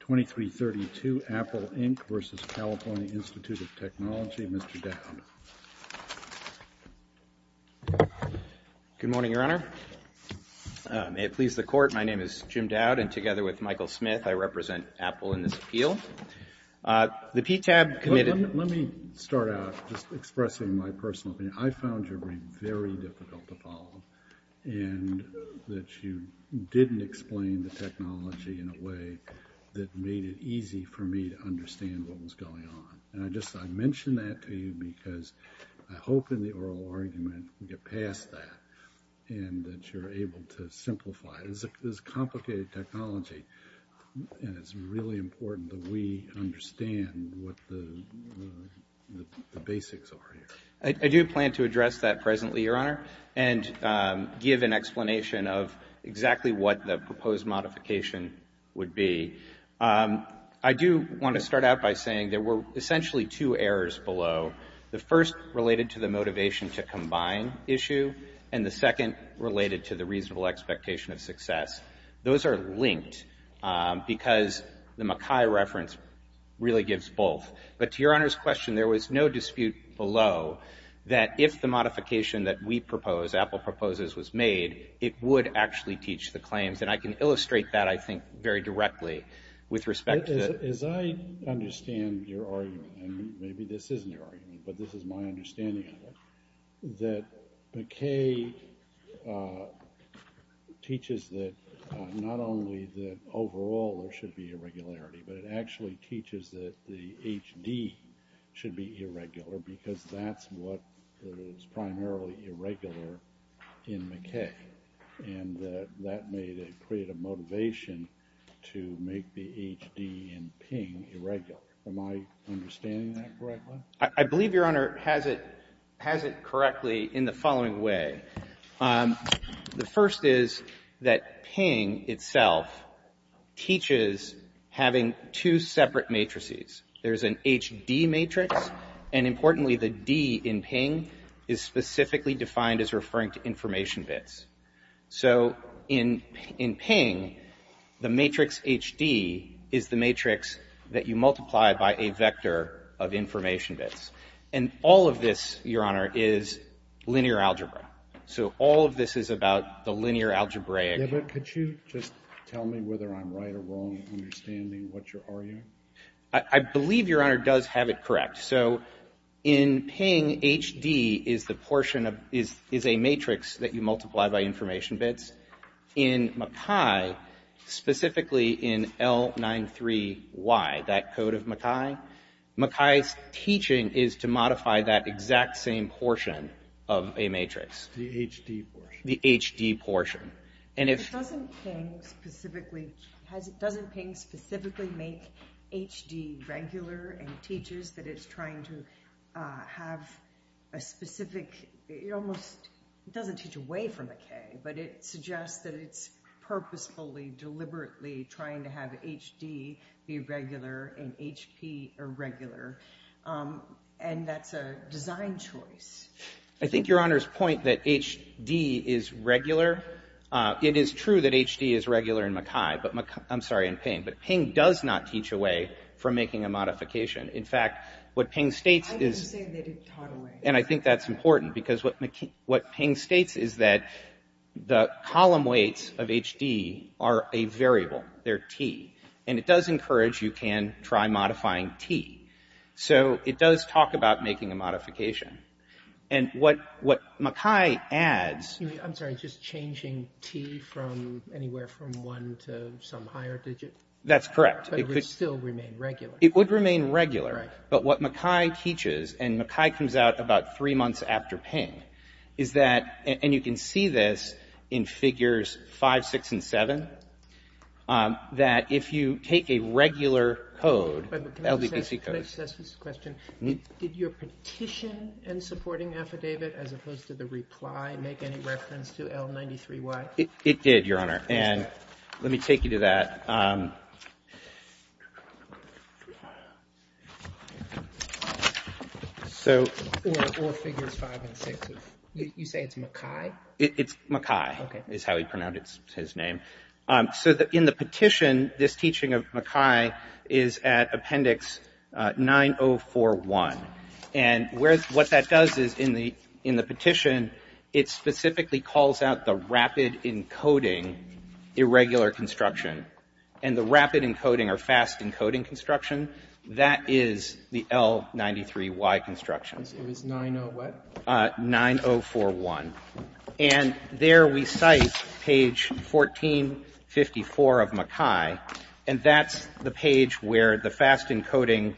2332 Apple Inc. v. California Institute of Technology. Mr. Dowd. Good morning, Your Honor. May it please the Court. My name is Jim Dowd, and together with Michael Smith, I represent Apple in this appeal. The PTAB committed Let me start out just expressing my personal opinion. I found your brief very difficult to follow, and that you didn't explain the technology in a way that made it easy for me to understand what was going on. And I mention that to you because I hope in the oral argument you get past that and that you're able to simplify it. This is complicated technology, and it's really important that we understand what the basics are here. I do plan to address that presently, Your Honor. And give an explanation of exactly what the proposed modification would be. I do want to start out by saying there were essentially two errors below. The first related to the motivation to combine issue, and the second related to the reasonable expectation of success. Those are linked because the Mackay reference really gives both. But to Your Honor's question, there was no dispute below that if the modification that we propose, Apple proposes, was made, it would actually teach the claims. And I can illustrate that, I think, very directly with respect to the As I understand your argument, and maybe this isn't your argument, but this is my understanding of it, that Mackay teaches that not only that overall there should be irregularity, but it actually teaches that the HD should be irregular because that's what is primarily irregular in Mackay. And that made it create a motivation to make the HD in Ping irregular. Am I understanding that correctly? I believe, Your Honor, has it correctly in the following way. The first is that Ping itself teaches having two separate matrices. There's an HD matrix, and importantly, the D in Ping is specifically defined as referring to information bits. So in Ping, the matrix HD is the matrix that you multiply by a vector of information bits. And all of this, Your Honor, is linear algebra. So all of this is about the linear algebraic Yeah, but could you just tell me whether I'm right or wrong in understanding what your argument is? I believe, Your Honor, does have it correct. So in Ping, HD is a matrix that you multiply by information bits. In Mackay, specifically in L93Y, that code of Mackay, Mackay's teaching is to modify that exact same portion of a matrix. The HD portion. The HD portion. Doesn't Ping specifically make HD regular and teaches that it's trying to have a specific, it almost doesn't teach away from the K, but it suggests that it's purposefully, deliberately trying to have HD be regular and HP irregular. And that's a design choice. I think Your Honor's point that HD is regular, it is true that HD is regular in Mackay, I'm sorry, in Ping, but Ping does not teach away from making a modification. In fact, what Ping states is I would say that it taught away. And I think that's important because what Ping states is that the column weights of HD are a variable. They're T. And it does encourage you can try modifying T. So it does talk about making a modification. And what Mackay adds. I'm sorry, just changing T from anywhere from one to some higher digit? That's correct. But it would still remain regular. It would remain regular. Right. But what Mackay teaches, and Mackay comes out about three months after Ping, is that, and you can see this in figures 5, 6, and 7, that if you take a regular code, LBGC code. Can I just ask this question? Did your petition and supporting affidavit as opposed to the reply make any reference to L93Y? It did, Your Honor. And let me take you to that. So. Or figures 5 and 6. You say it's Mackay? It's Mackay is how he pronounced his name. So in the petition, this teaching of Mackay is at appendix 9041. And what that does is in the petition, it specifically calls out the rapid encoding irregular construction. And the rapid encoding or fast encoding construction, that is the L93Y construction. It was 90 what? 9041. And there we cite page 1454 of Mackay. And that's the page where the fast encoding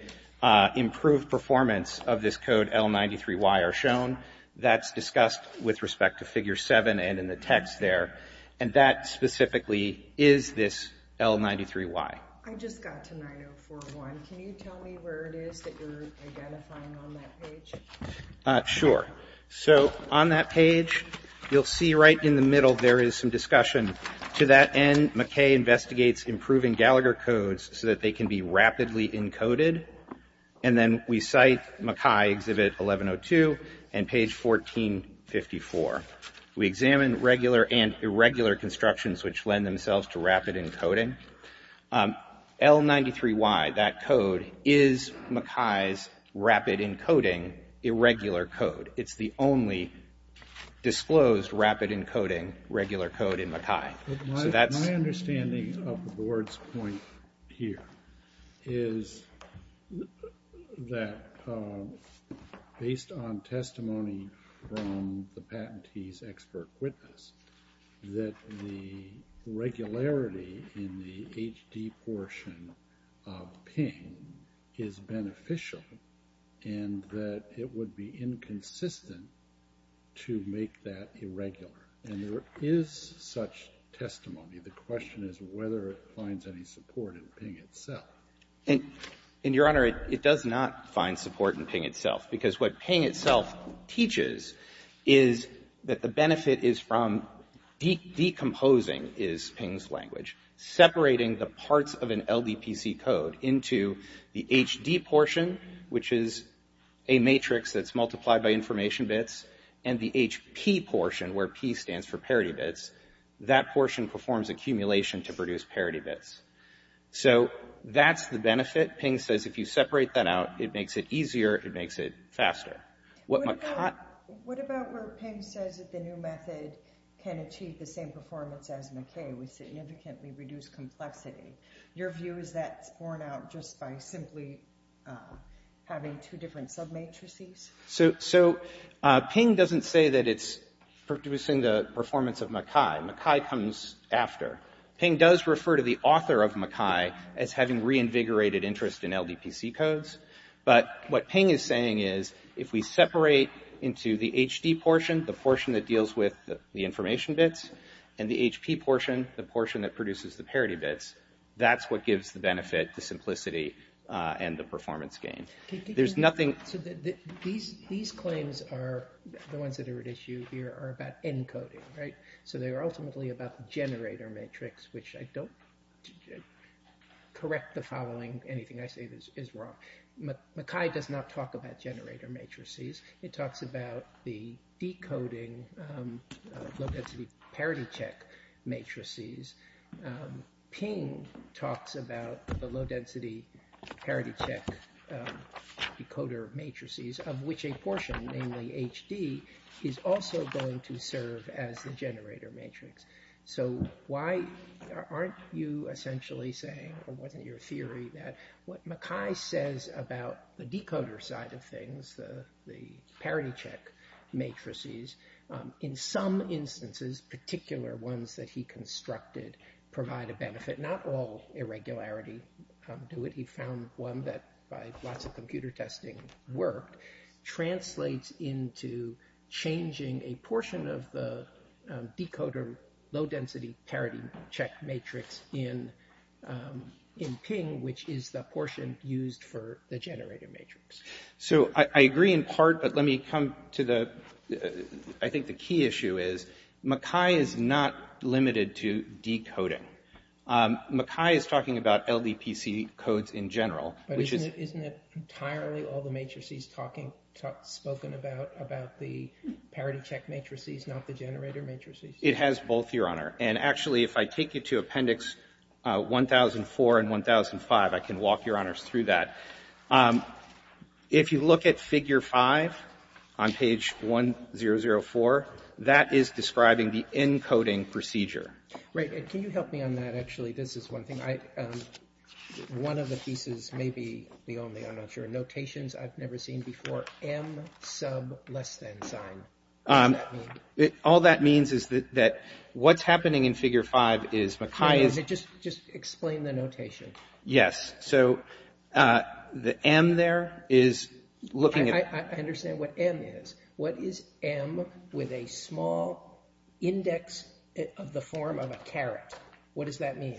improved performance of this code L93Y are shown. That's discussed with respect to figure 7 and in the text there. And that specifically is this L93Y. I just got to 9041. Can you tell me where it is that you're identifying on that page? Sure. So on that page, you'll see right in the middle there is some discussion. To that end, Mackay investigates improving Gallagher codes so that they can be rapidly encoded. And then we cite Mackay exhibit 1102 and page 1454. We examine regular and irregular constructions which lend themselves to rapid encoding. L93Y, that code, is Mackay's rapid encoding irregular code. It's the only disclosed rapid encoding regular code in Mackay. My understanding of the board's point here is that based on testimony from the patentee's expert witness, that the regularity in the HD portion of PING is beneficial and that it would be inconsistent to make that irregular. And there is such testimony. The question is whether it finds any support in PING itself. And, Your Honor, it does not find support in PING itself. Because what PING itself teaches is that the benefit is from decomposing, is PING's language. Separating the parts of an LDPC code into the HD portion, which is a matrix that's multiplied by information bits, and the HP portion where P stands for parity bits, that portion performs accumulation to produce parity bits. So that's the benefit. PING says if you separate that out, it makes it easier, it makes it faster. What about where PING says that the new method can achieve the same performance as Mackay with significantly reduced complexity? Your view is that's borne out just by simply having two different sub-matrices? So PING doesn't say that it's producing the performance of Mackay. Mackay comes after. PING does refer to the author of Mackay as having reinvigorated interest in LDPC codes. But what PING is saying is if we separate into the HD portion, the portion that deals with the information bits, and the HP portion, the portion that produces the parity bits, that's what gives the benefit, the simplicity, and the performance gain. There's nothing... So these claims are, the ones that are at issue here, are about encoding, right? So they are ultimately about the generator matrix, which I don't correct the following. Anything I say is wrong. Mackay does not talk about generator matrices. It talks about the decoding low-density parity-check matrices. PING talks about the low-density parity-check decoder matrices, of which a portion, namely HD, is also going to serve as the generator matrix. So why aren't you essentially saying, or wasn't it your theory, that what Mackay says about the decoder side of things, the parity-check matrices, in some instances, particular ones that he constructed, provide a benefit. Not all irregularity do it. He found one that, by lots of computer testing work, translates into changing a portion of the decoder low-density parity-check matrix in PING, which is the portion used for the generator matrix. So I agree in part, but let me come to the, I think the key issue is, Mackay is not limited to decoding. Mackay is talking about LDPC codes in general, which is... But isn't it entirely all the matrices spoken about, about the parity-check matrices, not the generator matrices? It has both, Your Honor. And actually, if I take you to Appendix 1004 and 1005, I can walk Your Honors through that. If you look at Figure 5 on page 1004, that is describing the encoding procedure. Right. Can you help me on that, actually? This is one thing. One of the pieces may be the only, I'm not sure, notations I've never seen before, M sub less than sign. What does that mean? All that means is that what's happening in Figure 5 is Mackay is... Just explain the notation. Yes. So the M there is looking at... I understand what M is. What is M with a small index of the form of a caret? What does that mean?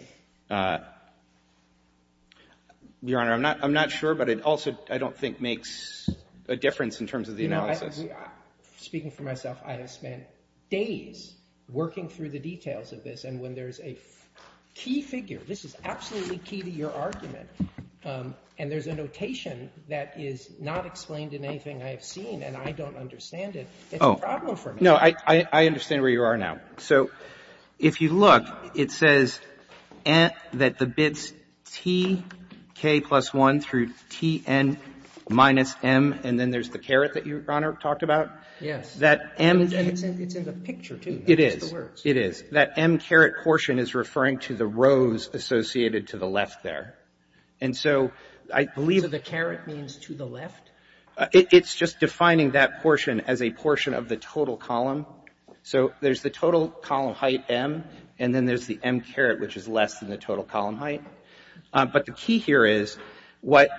Your Honor, I'm not sure, but it also, I don't think, makes a difference in terms of the analysis. Speaking for myself, I have spent days working through the details of this, and when there's a key figure, this is absolutely key to your argument, and there's a notation that is not explained in anything I have seen and I don't understand it, it's a problem for me. No, I understand where you are now. So if you look, it says that the bits TK plus 1 through TN minus M, and then there's the caret that your Honor talked about. Yes. That M... And it's in the picture, too. It is. That's the words. It is. That M caret portion is referring to the rows associated to the left there. And so I believe... So the caret means to the left? It's just defining that portion as a portion of the total column. So there's the total column height M, and then there's the M caret, which is less than the total column height. But the key here is what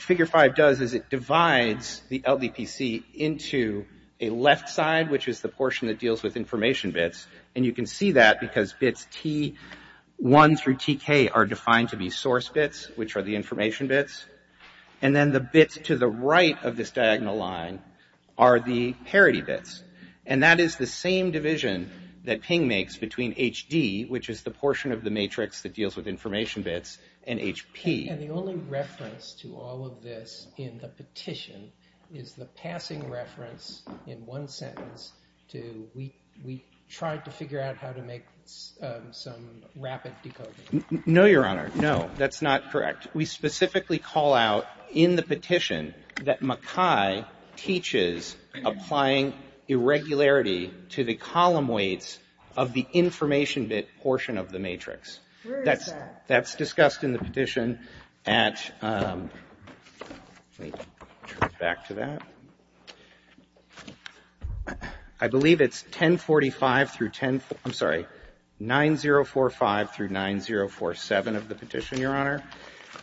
figure 5 does is it divides the LDPC into a left side, which is the portion that deals with information bits, and you can see that because bits T1 through TK are defined to be source bits, which are the information bits, and then the bits to the right of this diagonal line are the parity bits. And that is the same division that Ping makes between HD, which is the portion of the matrix that deals with information bits, and HP. And the only reference to all of this in the petition is the passing reference in one sentence to, we tried to figure out how to make some rapid decoding. No, Your Honor. No, that's not correct. In fact, we specifically call out in the petition that Mackay teaches applying irregularity to the column weights of the information bit portion of the matrix. Where is that? That's discussed in the petition at, let me turn it back to that. I believe it's 1045 through 10, I'm sorry, 9045 through 9047 of the petition, Your Honor.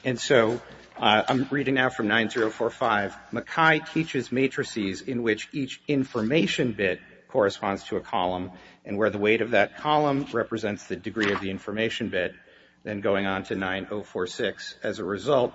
And so I'm reading now from 9045. Mackay teaches matrices in which each information bit corresponds to a column and where the weight of that column represents the degree of the information bit, then going on to 9046. As a result,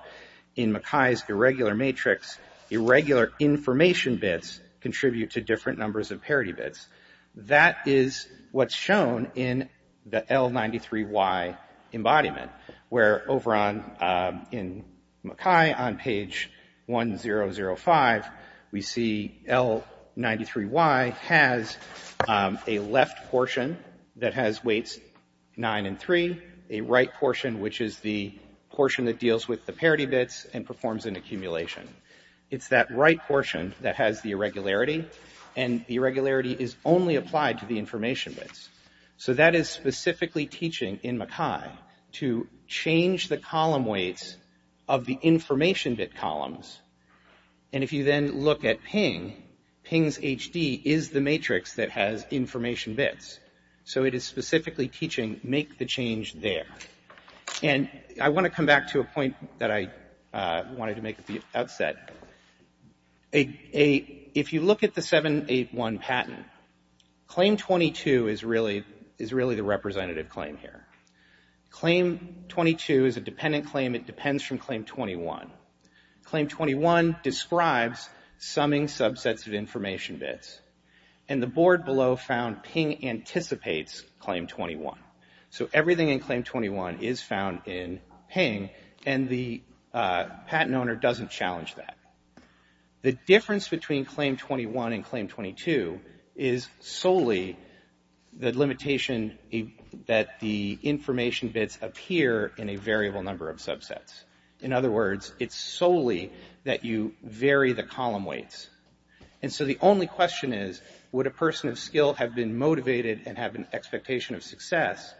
in Mackay's irregular matrix, irregular information bits contribute to different numbers of parity bits. That is what's shown in the L93Y embodiment, where over on, in Mackay on page 1005, we see L93Y has a left portion that has weights nine and three, a right portion, which is the portion that deals with the parity bits and performs an accumulation. It's that right portion that has the irregularity, and the irregularity is only applied to the information bits. So that is specifically teaching in Mackay to change the column weights of the information bit columns. And if you then look at Ping, Ping's HD is the matrix that has information bits. So it is specifically teaching, make the change there. And I want to come back to a point that I wanted to make at the outset. If you look at the 781 patent, Claim 22 is really the representative claim here. Claim 22 is a dependent claim. It depends from Claim 21. Claim 21 describes summing subsets of information bits, and the board below found Ping anticipates Claim 21. So everything in Claim 21 is found in Ping, and the patent owner doesn't challenge that. The difference between Claim 21 and Claim 22 is solely the limitation that the information bits appear in a variable number of subsets. In other words, it's solely that you vary the column weights. And so the only question is, would a person of skill have been motivated and have an expectation of success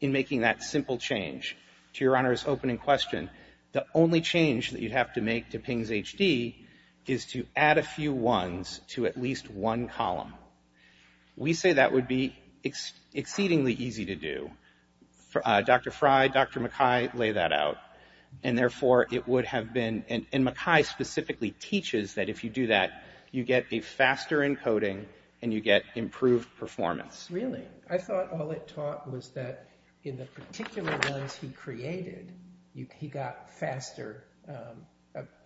in making that simple change? To your Honor's opening question, the only change that you'd have to make to Ping's HD is to add a few ones to at least one column. We say that would be exceedingly easy to do. Dr. Fry, Dr. McKay lay that out. And therefore, it would have been, and McKay specifically teaches that if you do that, you get a faster encoding and you get improved performance. Really? I thought all it taught was that in the particular ones he created, he got faster,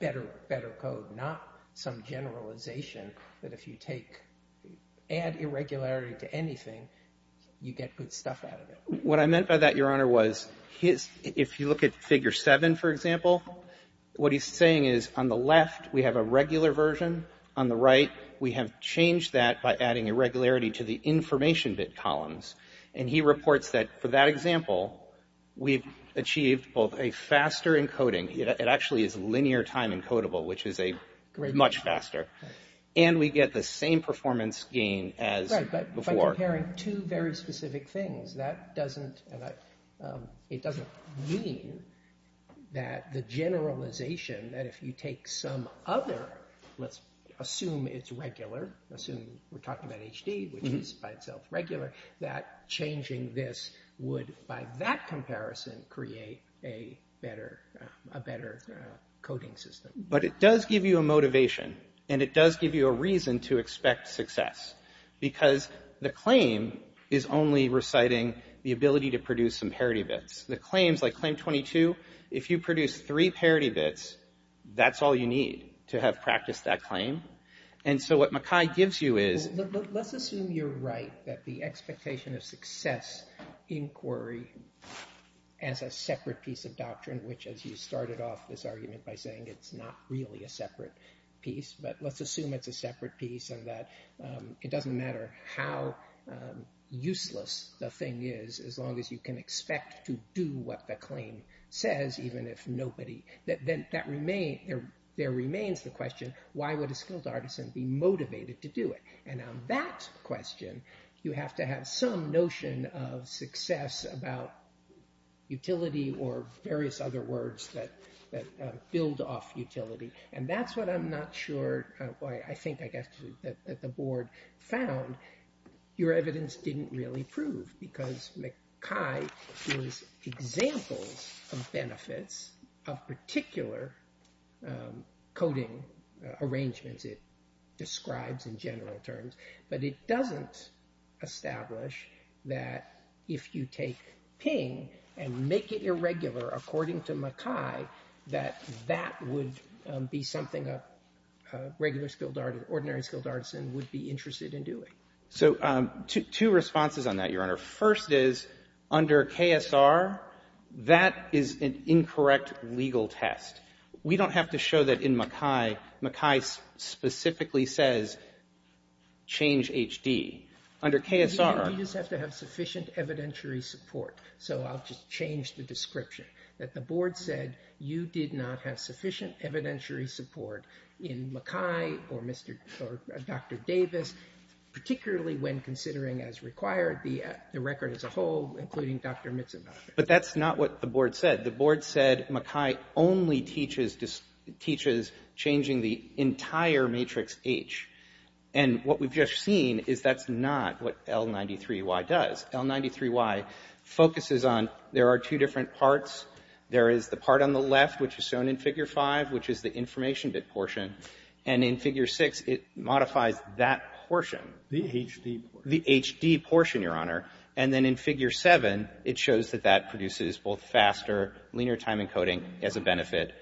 better code, not some generalization that if you take, add irregularity to anything, you get good stuff out of it. What I meant by that, Your Honor, was his, if you look at Figure 7, for example, what he's saying is on the left, we have a regular version. On the right, we have changed that by adding irregularity to the information bit columns. And he reports that for that example, we've achieved both a faster encoding. It actually is linear time encodable, which is a much faster. And we get the same performance gain as before. Comparing two very specific things, that doesn't, it doesn't mean that the generalization, that if you take some other, let's assume it's regular, assume we're talking about HD, which is by itself regular, that changing this would, by that comparison, create a better coding system. But it does give you a motivation, and it does give you a reason to expect success. Because the claim is only reciting the ability to produce some parity bits. The claims, like Claim 22, if you produce three parity bits, that's all you need to have practiced that claim. And so what Mackay gives you is… Let's assume you're right, that the expectation of success inquiry as a separate piece of doctrine, which as you started off this argument by saying it's not really a separate piece. But let's assume it's a separate piece, and that it doesn't matter how useless the thing is, as long as you can expect to do what the claim says, even if nobody… There remains the question, why would a skilled artisan be motivated to do it? And on that question, you have to have some notion of success about utility or various other words that build off utility. And that's what I'm not sure, I think, I guess, that the board found. Your evidence didn't really prove, because Mackay gives examples of benefits of particular coding arrangements it describes in general terms. But it doesn't establish that if you take PING and make it irregular, according to Mackay, that that would be something a regular skilled artisan, ordinary skilled artisan, would be interested in doing. So two responses on that, Your Honor. First is, under KSR, that is an incorrect legal test. We don't have to show that in Mackay. Mackay specifically says, change HD. Under KSR… You just have to have sufficient evidentiary support. So I'll just change the description, that the board said you did not have sufficient evidentiary support in Mackay or Dr. Davis, particularly when considering, as required, the record as a whole, including Dr. Mitsubishi. But that's not what the board said. The board said Mackay only teaches changing the entire matrix H. And what we've just seen is that's not what L93Y does. L93Y focuses on there are two different parts. There is the part on the left, which is shown in Figure 5, which is the information bit portion. And in Figure 6, it modifies that portion. The HD portion. The HD portion, Your Honor. And then in Figure 7, it shows that that produces both faster linear time encoding as a benefit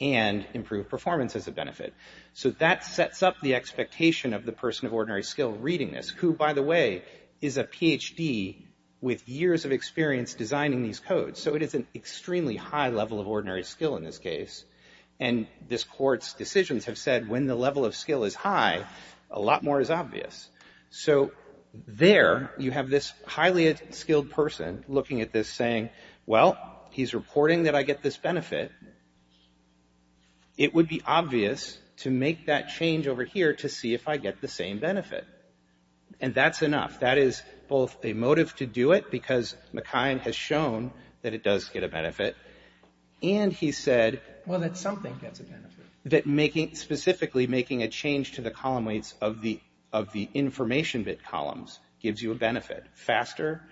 and improved performance as a benefit. So that sets up the expectation of the person of ordinary skill reading this, who, by the way, is a Ph.D. with years of experience designing these codes. So it is an extremely high level of ordinary skill in this case. And this Court's decisions have said when the level of skill is high, a lot more is obvious. So there you have this highly skilled person looking at this saying, well, he's reporting that I get this benefit. It would be obvious to make that change over here to see if I get the same benefit. And that's enough. That is both a motive to do it because Mackay has shown that it does get a benefit. And he said... Well, that something gets a benefit. That specifically making a change to the column weights of the information bit columns gives you a benefit. Faster,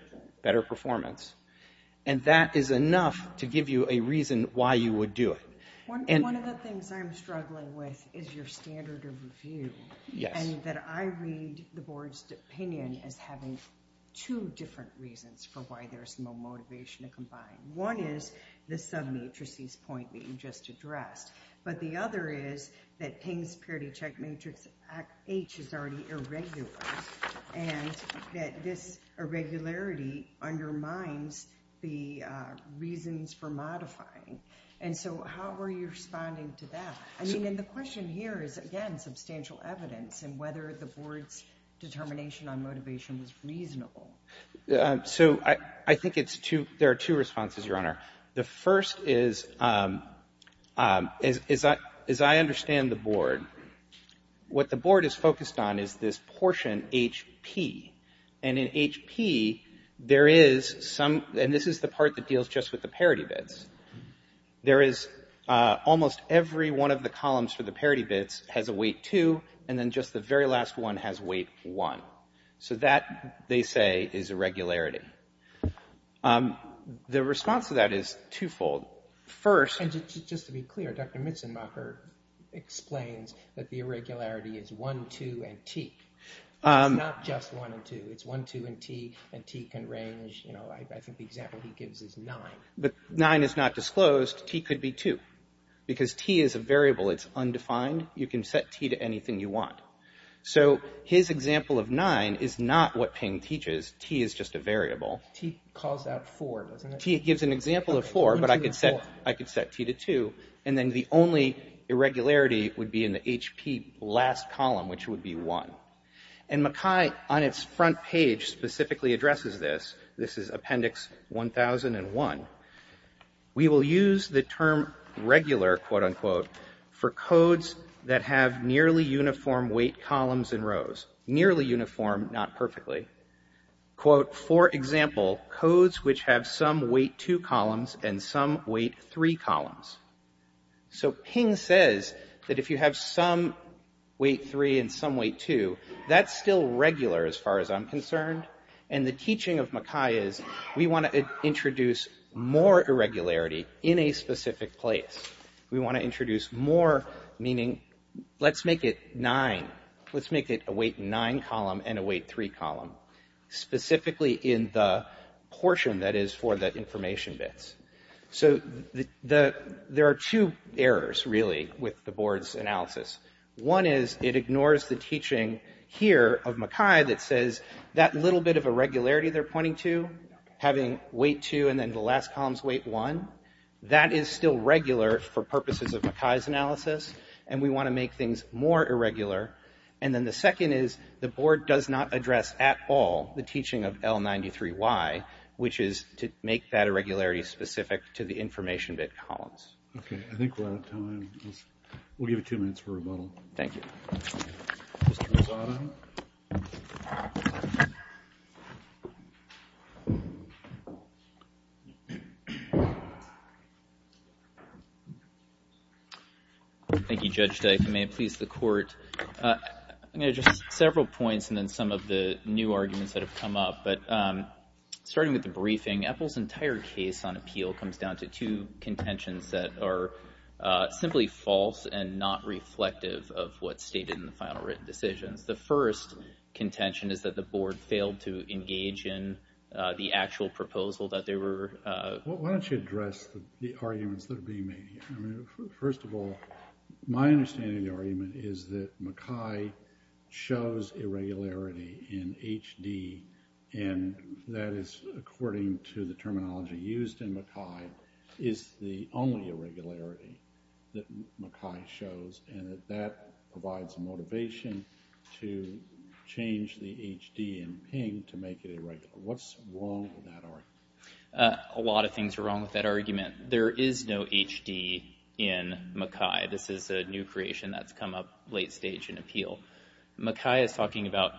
better performance. And that is enough to give you a reason why you would do it. One of the things I'm struggling with is your standard of review. Yes. And that I read the Board's opinion as having two different reasons for why there's no motivation to combine. One is the submatrices point that you just addressed. But the other is that Ping's parity check matrix H is already irregular. And that this irregularity undermines the reasons for modifying. And so how are you responding to that? I mean, and the question here is, again, substantial evidence in whether the Board's determination on motivation was reasonable. So I think it's two, there are two responses, Your Honor. The first is, as I understand the Board, what the Board is focused on is this portion HP. And in HP, there is some, and this is the part that deals just with the parity bits. There is almost every one of the columns for the parity bits has a weight 2. And then just the very last one has weight 1. So that, they say, is irregularity. The response to that is twofold. First. And just to be clear, Dr. Mitzenmacher explains that the irregularity is 1, 2, and T. It's not just 1 and 2. It's 1, 2, and T. And T can range, you know, I think the example he gives is 9. But 9 is not disclosed. T could be 2. Because T is a variable. It's undefined. You can set T to anything you want. So his example of 9 is not what Ping teaches. T is just a variable. T calls out 4, doesn't it? T gives an example of 4. But I could set T to 2. And then the only irregularity would be in the HP last column, which would be 1. And Mackay, on its front page, specifically addresses this. This is Appendix 1001. We will use the term regular, quote, unquote, for codes that have nearly uniform weight columns and rows. Nearly uniform, not perfectly. Quote, for example, codes which have some weight 2 columns and some weight 3 columns. So Ping says that if you have some weight 3 and some weight 2, that's still regular as far as I'm concerned. And the teaching of Mackay is we want to introduce more irregularity in a specific place. We want to introduce more, meaning let's make it 9. Let's make it a weight 9 column and a weight 3 column, specifically in the portion that is for the information bits. So there are two errors, really, with the board's analysis. One is it ignores the teaching here of Mackay that says that little bit of irregularity they're pointing to, having weight 2 and then the last column's weight 1, that is still regular for purposes of Mackay's analysis, and we want to make things more irregular. And then the second is the board does not address at all the teaching of L93Y, which is to make that irregularity specific to the information bit columns. Okay, I think we're out of time. We'll give it two minutes for rebuttal. Thank you. Mr. Rosado. Thank you, Judge Dyke. And may it please the Court, I'm going to address several points and then some of the new arguments that have come up. But starting with the briefing, Apple's entire case on appeal comes down to two contentions that are simply false and not reflective of what's stated in the final written decisions. The first contention is that the board failed to engage in the actual proposal that they were. Why don't you address the arguments that are being made? First of all, my understanding of the argument is that Mackay shows irregularity in HD, and that is according to the terminology used in Mackay, is the only irregularity that Mackay shows, and that that provides motivation to change the HD in ping to make it irregular. What's wrong with that argument? A lot of things are wrong with that argument. There is no HD in Mackay. Mackay is talking about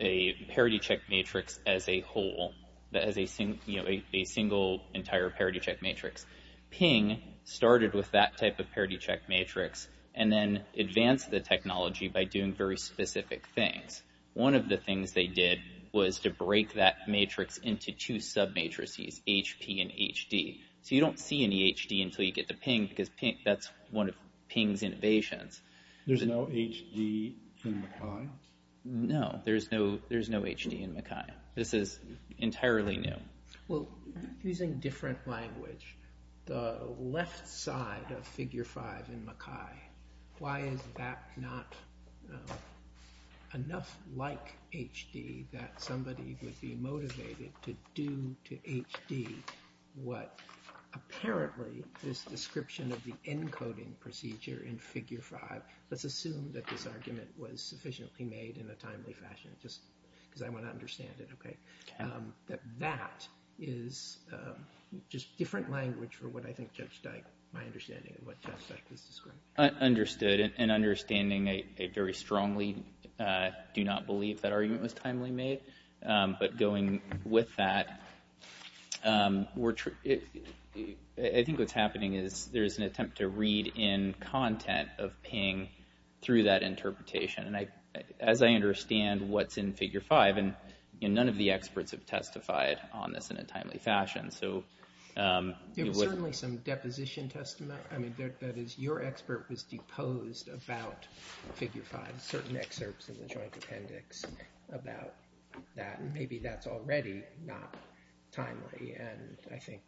a parity-check matrix as a whole, as a single entire parity-check matrix. Ping started with that type of parity-check matrix and then advanced the technology by doing very specific things. One of the things they did was to break that matrix into two sub-matrices, HP and HD. So you don't see any HD until you get to ping, because that's one of ping's innovations. There's no HD in Mackay? No, there's no HD in Mackay. This is entirely new. Well, using different language, the left side of figure 5 in Mackay, why is that not enough like HD that somebody would be motivated to do to HD what apparently this description of the encoding procedure in figure 5, let's assume that this argument was sufficiently made in a timely fashion, because I want to understand it, that that is just different language for what I think Judge Dyke, my understanding of what Judge Dyke was describing. Understood, and understanding I very strongly do not believe that argument was timely made, but going with that, I think what's happening is there's an attempt to read in content of ping through that interpretation. And as I understand what's in figure 5, and none of the experts have testified on this in a timely fashion. There was certainly some deposition testimony, that is your expert was deposed about figure 5, and certain excerpts in the joint appendix about that, and maybe that's already not timely. And I think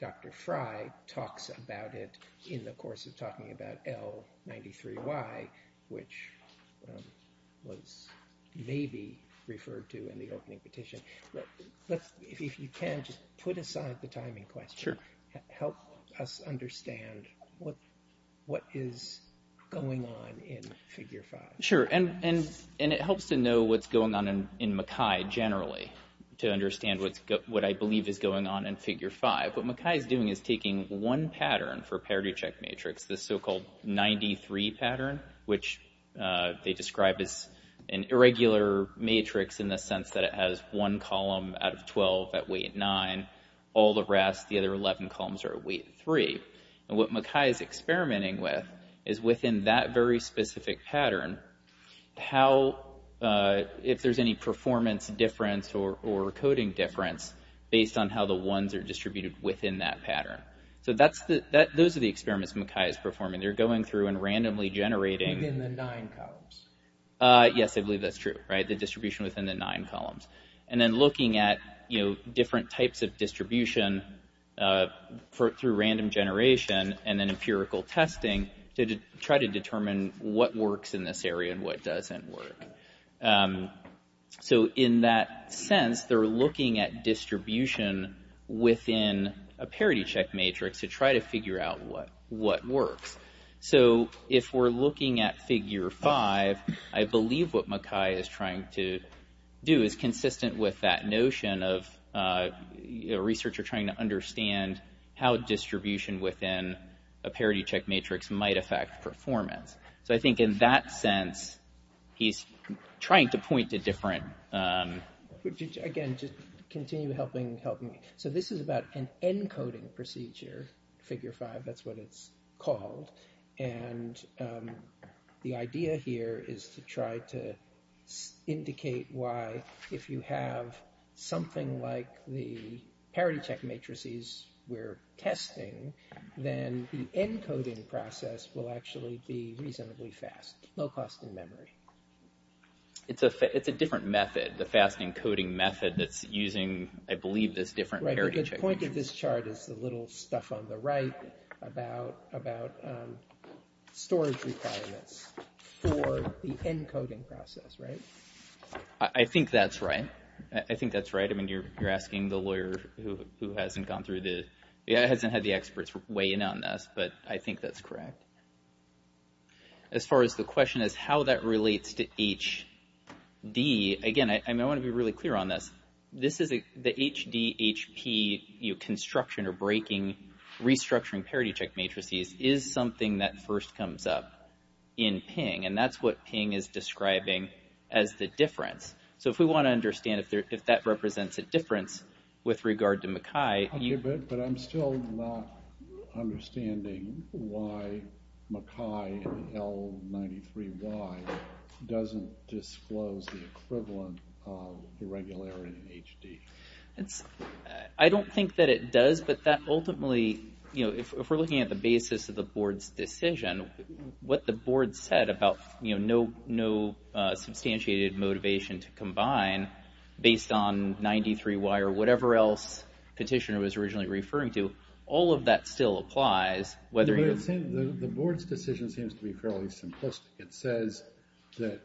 Dr. Fry talks about it in the course of talking about L93Y, which was maybe referred to in the opening petition. If you can just put aside the timing question, help us understand what is going on in figure 5. Sure, and it helps to know what's going on in MacKay generally, to understand what I believe is going on in figure 5. What MacKay is doing is taking one pattern for parity check matrix, the so-called 93 pattern, which they describe as an irregular matrix in the sense that it has one column out of 12 at weight 9, all the rest, the other 11 columns are at weight 3. And what MacKay is experimenting with is within that very specific pattern, if there's any performance difference or coding difference, based on how the ones are distributed within that pattern. So those are the experiments MacKay is performing. They're going through and randomly generating... Within the nine columns. Yes, I believe that's true. The distribution within the nine columns. And then looking at different types of distribution through random generation and then empirical testing to try to determine what works in this area and what doesn't work. So in that sense, they're looking at distribution within a parity check matrix to try to figure out what works. So if we're looking at figure 5, I believe what MacKay is trying to do is consistent with that notion of a researcher trying to understand how distribution within a parity check matrix might affect performance. So I think in that sense, he's trying to point to different... Again, just continue helping me. So this is about an encoding procedure, figure 5, that's what it's called. And the idea here is to try to indicate why, if you have something like the parity check matrices we're testing, then the encoding process will actually be reasonably fast. Low cost in memory. It's a different method, the fast encoding method, that's using, I believe, this different parity check... The point of this chart is the little stuff on the right about storage requirements for the encoding process, right? I think that's right. I think that's right. I mean, you're asking the lawyer who hasn't gone through the... hasn't had the experts weigh in on this, but I think that's correct. As far as the question is how that relates to HD, again, I want to be really clear on this. This is the HDHP construction or breaking, restructuring parity check matrices is something that first comes up in Ping, and that's what Ping is describing as the difference. So if we want to understand if that represents a difference with regard to MacKay... Okay, but I'm still not understanding why MacKay in L93Y doesn't disclose the equivalent of the regularity in HD. I don't think that it does, but that ultimately... If we're looking at the basis of the board's decision, what the board said about no substantiated motivation to combine based on 93Y or whatever else Petitioner was originally referring to, all of that still applies. The board's decision seems to be fairly simplistic. It says that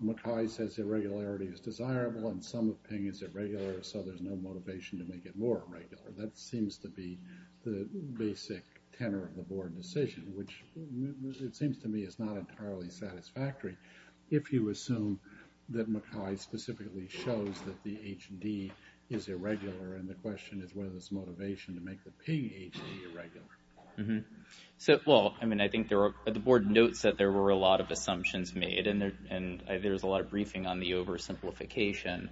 MacKay says irregularity is desirable, and some of Ping is irregular, so there's no motivation to make it more irregular. That seems to be the basic tenor of the board decision, which it seems to me is not entirely satisfactory if you assume that MacKay specifically shows that the HD is irregular, and the question is whether there's motivation to make the Ping HD irregular. Well, I mean, I think the board notes that there were a lot of assumptions made, and there's a lot of briefing on the oversimplification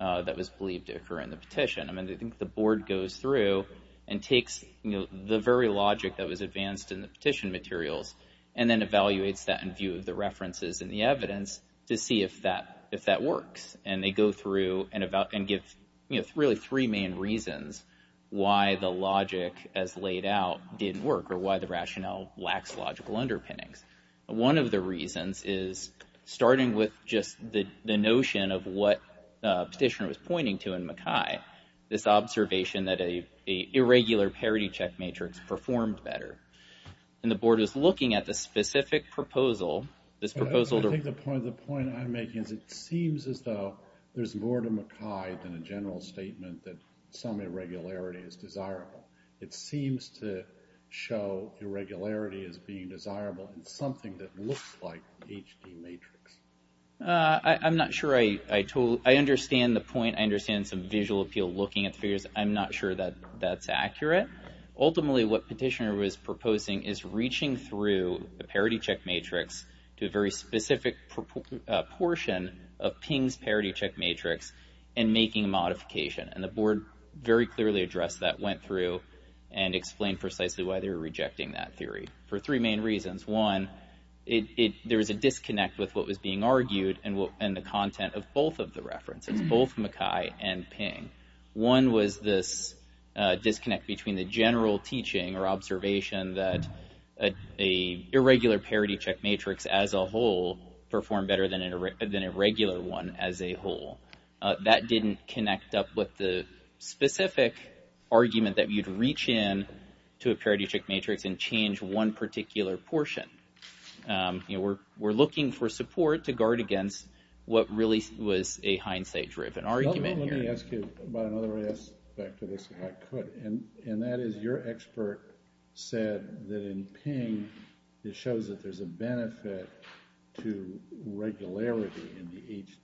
that was believed to occur in the petition. I mean, I think the board goes through and takes the very logic that was advanced in the petition materials and then evaluates that in view of the references and the evidence to see if that works, and they go through and give really three main reasons why the logic as laid out didn't work or why the rationale lacks logical underpinnings. One of the reasons is starting with just the notion of what the petitioner was pointing to in MacKay, this observation that an irregular parity check matrix performed better, and the board is looking at the specific proposal. I think the point I'm making is it seems as though there's more to MacKay than a general statement that some irregularity is desirable. It seems to show irregularity as being desirable in something that looks like an HD matrix. I'm not sure I understand the point. I understand some visual appeal looking at the figures. I'm not sure that that's accurate. Ultimately, what the petitioner was proposing is reaching through the parity check matrix to a very specific portion of Ping's parity check matrix and making a modification, and the board very clearly addressed that, went through, and explained precisely why they were rejecting that theory for three main reasons. One, there was a disconnect with what was being argued and the content of both of the references, both MacKay and Ping. One was this disconnect between the general teaching or observation that an irregular parity check matrix as a whole performed better than a regular one as a whole. That didn't connect up with the specific argument that you'd reach in to a parity check matrix and change one particular portion. We're looking for support to guard against what really was a hindsight-driven argument here. Let me ask you about another aspect of this if I could, and that is your expert said that in Ping, it shows that there's a benefit to regularity in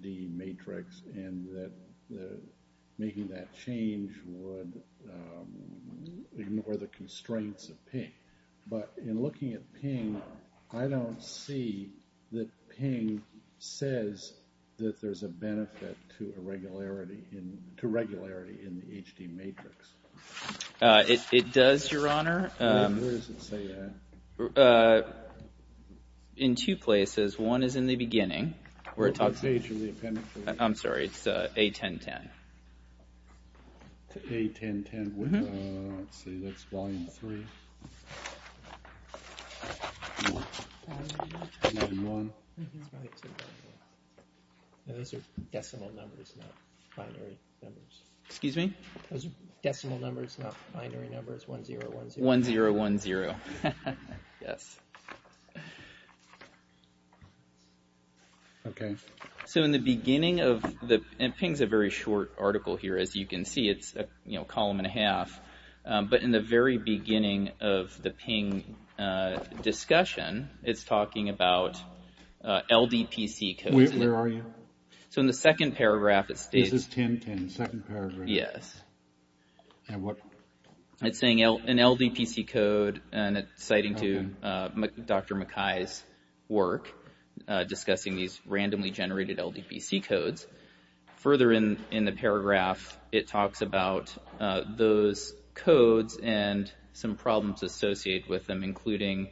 the HD matrix and that making that change would ignore the constraints of Ping. But in looking at Ping, I don't see that Ping says that there's a benefit to regularity in the HD matrix. It does, Your Honor. Where does it say that? In two places. One is in the beginning where it talks about... What page is the appendix in? I'm sorry. It's A1010. A1010. Let's see. That's volume three. Volume one. Those are decimal numbers, not binary numbers. Excuse me? Those are decimal numbers, not binary numbers. 1010. 1010. Yes. Okay. So in the beginning of the... And Ping's a very short article here, as you can see. It's a column and a half. But in the very beginning of the Ping discussion, it's talking about LDPC codes. Where are you? So in the second paragraph, it states... This is 1010, second paragraph. Yes. And what... It's saying an LDPC code, and it's citing Dr. McKay's work discussing these randomly generated LDPC codes. Further in the paragraph, it talks about those codes and some problems associated with them, including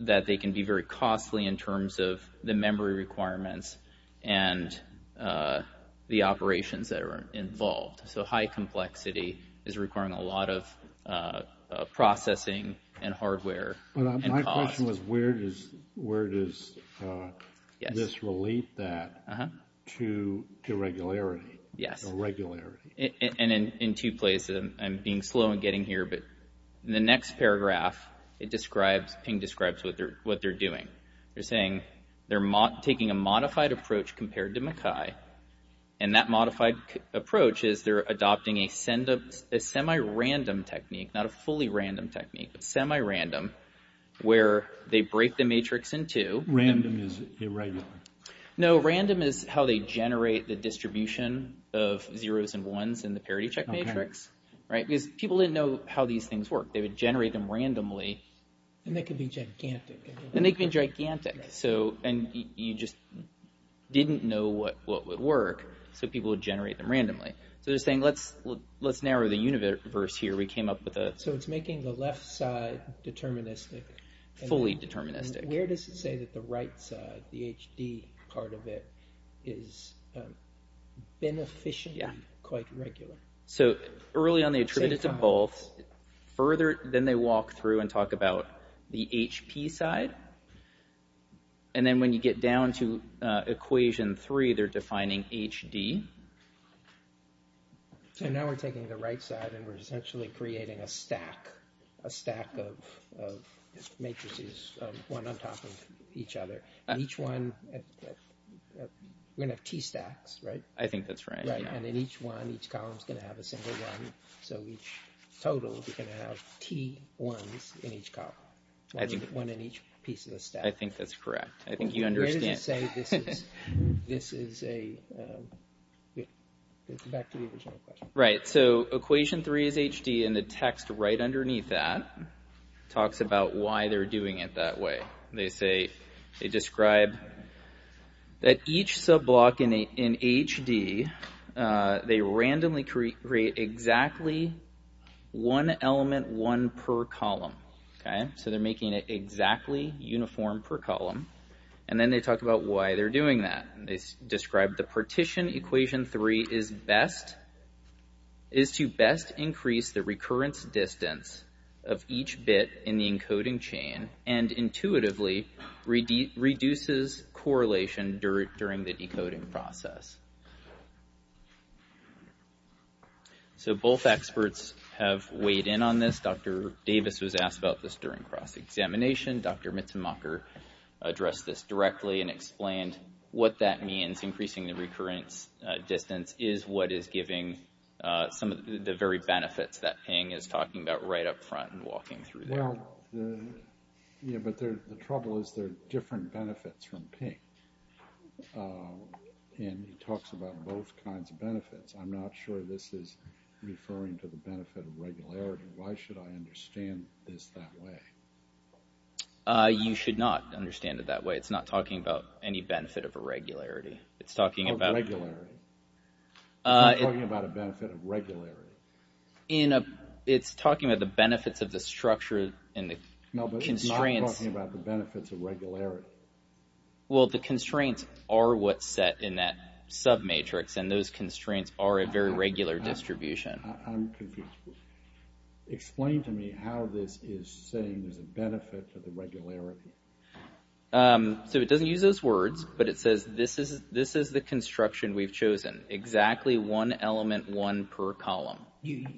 that they can be very costly in terms of the memory requirements and the operations that are involved. So high complexity is requiring a lot of processing and hardware and cost. But my question was, where does this relate that to irregularity? Yes. Irregularity. And in two places. I'm being slow in getting here, but in the next paragraph, it describes... Ping describes what they're doing. They're saying they're taking a modified approach compared to McKay, and that modified approach is they're adopting a semi-random technique, not a fully random technique, but semi-random, where they break the matrix in two. Random is irregular. No, random is how they generate the distribution of zeros and ones in the parity check matrix. Right? Because people didn't know how these things work. They would generate them randomly. And they could be gigantic. And they could be gigantic. And you just didn't know what would work, so people would generate them randomly. So they're saying, let's narrow the universe here. We came up with a... So it's making the left side deterministic. Fully deterministic. Where does it say that the right side, the HD part of it, is beneficially quite regular? So early on, they attribute it to both. Further, then they walk through and talk about the HP side. And then when you get down to equation three, they're defining HD. So now we're taking the right side and we're essentially creating a stack, a stack of matrices, one on top of each other. Each one... We're going to have T stacks, right? I think that's right. And in each one, each column is going to have a single one. So each total, we're going to have T ones in each column. One in each piece of the stack. I think that's correct. I think you understand. Where does it say this is a... Back to the original question. Right, so equation three is HD, and the text right underneath that talks about why they're doing it that way. They say... They describe that each sub-block in HD, they randomly create exactly one element, one per column. So they're making it exactly uniform per column. And then they talk about why they're doing that. They describe the partition equation three is to best increase the recurrence distance of each bit in the encoding chain and intuitively reduces correlation during the decoding process. So both experts have weighed in on this. Dr. Davis was asked about this during cross-examination. Dr. Mitzenmacher addressed this directly and explained what that means. Increasing the recurrence distance is what is giving some of the very benefits that Ping is talking about right up front and walking through there. Yeah, but the trouble is there are different benefits from Ping. And he talks about both kinds of benefits. I'm not sure this is referring to the benefit of regularity. Why should I understand this that way? You should not understand it that way. It's not talking about any benefit of irregularity. It's talking about... Of regularity. It's not talking about a benefit of regularity. It's talking about the benefits of the structure and the constraints... Well, the constraints are what's set in that submatrix, and those constraints are a very regular distribution. I'm confused. Explain to me how this is saying there's a benefit for the regularity. So it doesn't use those words, but it says this is the construction we've chosen, exactly one element, one per column.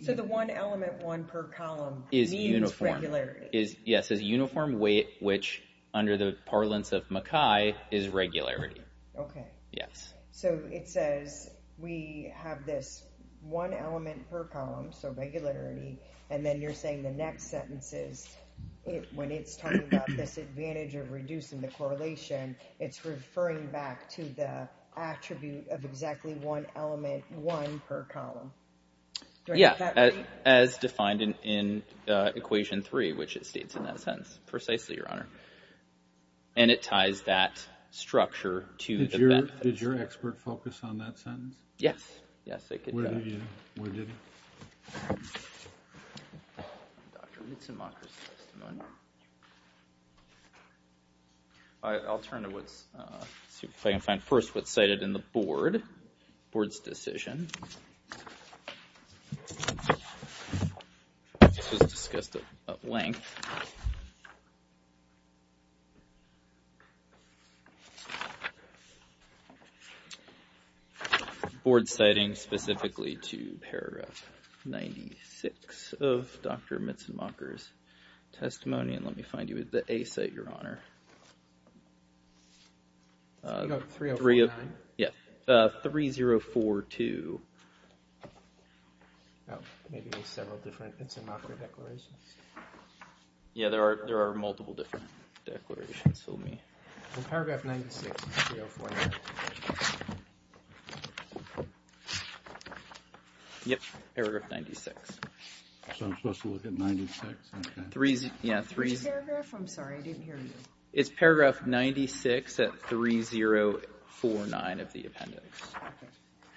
So the one element, one per column... Is uniform. ...means regularity. Yes, it says uniform weight, which under the parlance of Mackay is regularity. Okay. Yes. So it says we have this one element per column, so regularity, and then you're saying the next sentence is, when it's talking about this advantage of reducing the correlation, it's referring back to the attribute of exactly one element, one per column. Yeah, as defined in Equation 3, which it states in that sentence. Precisely, Your Honor. And it ties that structure to the benefit. Did your expert focus on that sentence? Yes. Yes, they did. Where did he go? Where did he go? Dr. Mützenmacher's testimony. I'll turn to what's... See if I can find first what's cited in the board, the board's decision. This was discussed at length. Board citing specifically to paragraph 96 of Dr. Mützenmacher's testimony, and let me find you the A site, Your Honor. 3049? Yeah, 3042. Maybe there's several different Mützenmacher declarations. Yeah, there are multiple different declarations. Paragraph 96, 3049. Yep, paragraph 96. So I'm supposed to look at 96? Which paragraph? I'm sorry, I didn't hear you. It's paragraph 96 at 3049 of the appendix.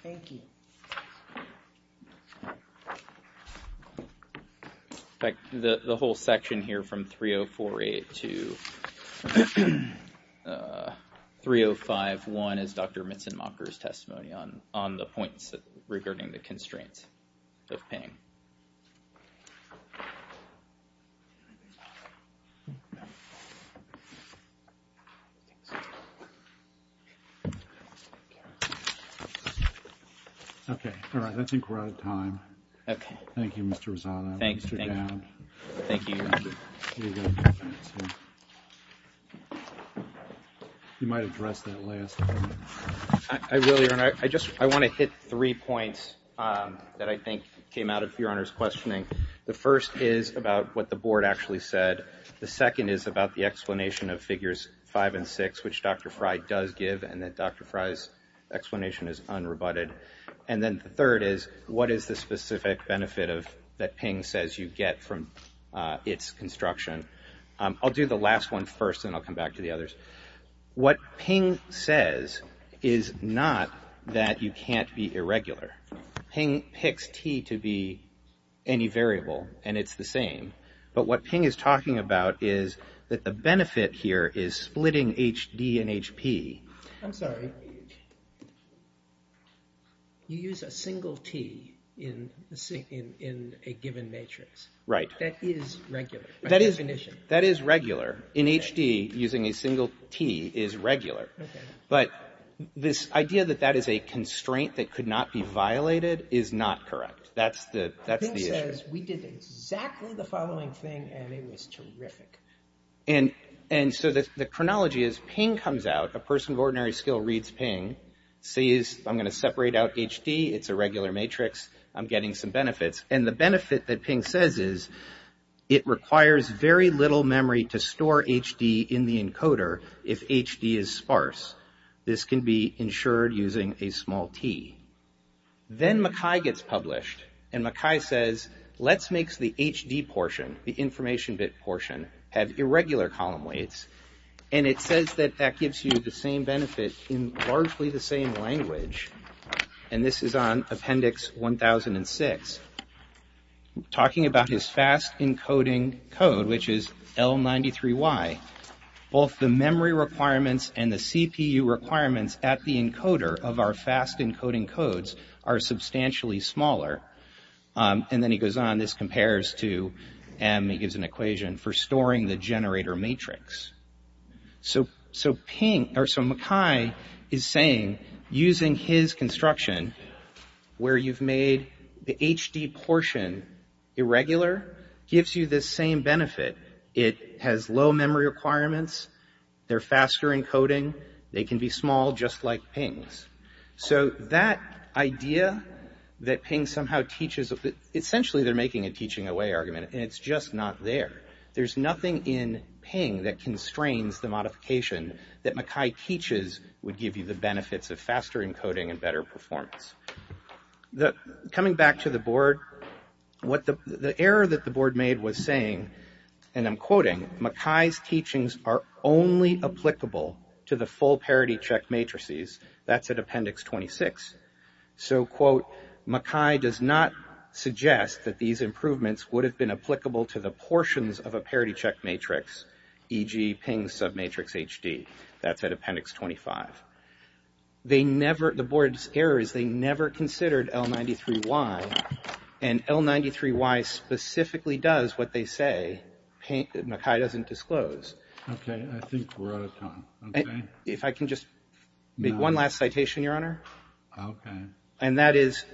Thank you. In fact, the whole section here from 3048 to 3051 is Dr. Mützenmacher's testimony on the points regarding the constraints of pinning. Okay, all right. I think we're out of time. Okay. Thank you, Mr. Rosado. Thanks. Thank you. You might address that last point. I will, Your Honor. I just want to hit three points that I think came out of Your Honor's questioning. The first is about what the Board actually said. The second is about the explanation of Figures 5 and 6, which Dr. Frey does give, and that Dr. Frey's explanation is unrebutted. And then the third is, what is the specific benefit that PING says you get from its construction? I'll do the last one first, and then I'll come back to the others. What PING says is not that you can't be irregular. PING picks T to be any variable, and it's the same. But what PING is talking about is that the benefit here is splitting HD and HP. I'm sorry. You use a single T in a given matrix. Right. That is regular by definition. That is regular. In HD, using a single T is regular. Okay. But this idea that that is a constraint that could not be violated is not correct. That's the issue. PING says we did exactly the following thing, and it was terrific. And so the chronology is PING comes out. A person of ordinary skill reads PING, sees I'm going to separate out HD. It's a regular matrix. I'm getting some benefits. And the benefit that PING says is it requires very little memory to store HD in the encoder if HD is sparse. This can be ensured using a small T. Then Mackay gets published, and Mackay says, let's make the HD portion, the information bit portion, have irregular column weights. And it says that that gives you the same benefit in largely the same language. And this is on Appendix 1006. Talking about his fast encoding code, which is L93Y, both the memory requirements and the CPU requirements at the encoder of our fast encoding codes are substantially smaller. And then he goes on. This compares to M. He gives an equation for storing the generator matrix. So Mackay is saying using his construction where you've made the HD portion irregular gives you the same benefit. It has low memory requirements. They're faster encoding. They can be small, just like PINGs. So that idea that PING somehow teaches, essentially they're making a teaching away argument, and it's just not there. There's nothing in PING that constrains the modification that Mackay teaches would give you the benefits of faster encoding and better performance. Coming back to the board, the error that the board made was saying, and I'm quoting, Mackay's teachings are only applicable to the full parity-check matrices. That's at Appendix 26. So, quote, Mackay does not suggest that these improvements would have been applicable to the portions of a parity-check matrix, e.g. PING submatrix HD. That's at Appendix 25. The board's error is they never considered L93Y, and L93Y specifically does what they say Mackay doesn't disclose. Okay, I think we're out of time. If I can just make one last citation, Your Honor. Okay. And that is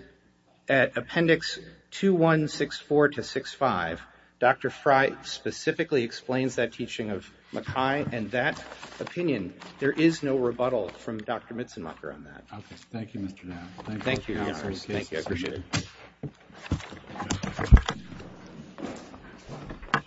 at Appendix 2164-65, Dr. Fry specifically explains that teaching of Mackay, and that opinion, there is no rebuttal from Dr. Mitzenmacher on that. Okay, thank you, Mr. Nash. Thank you, Your Honor. Thank you, I appreciate it.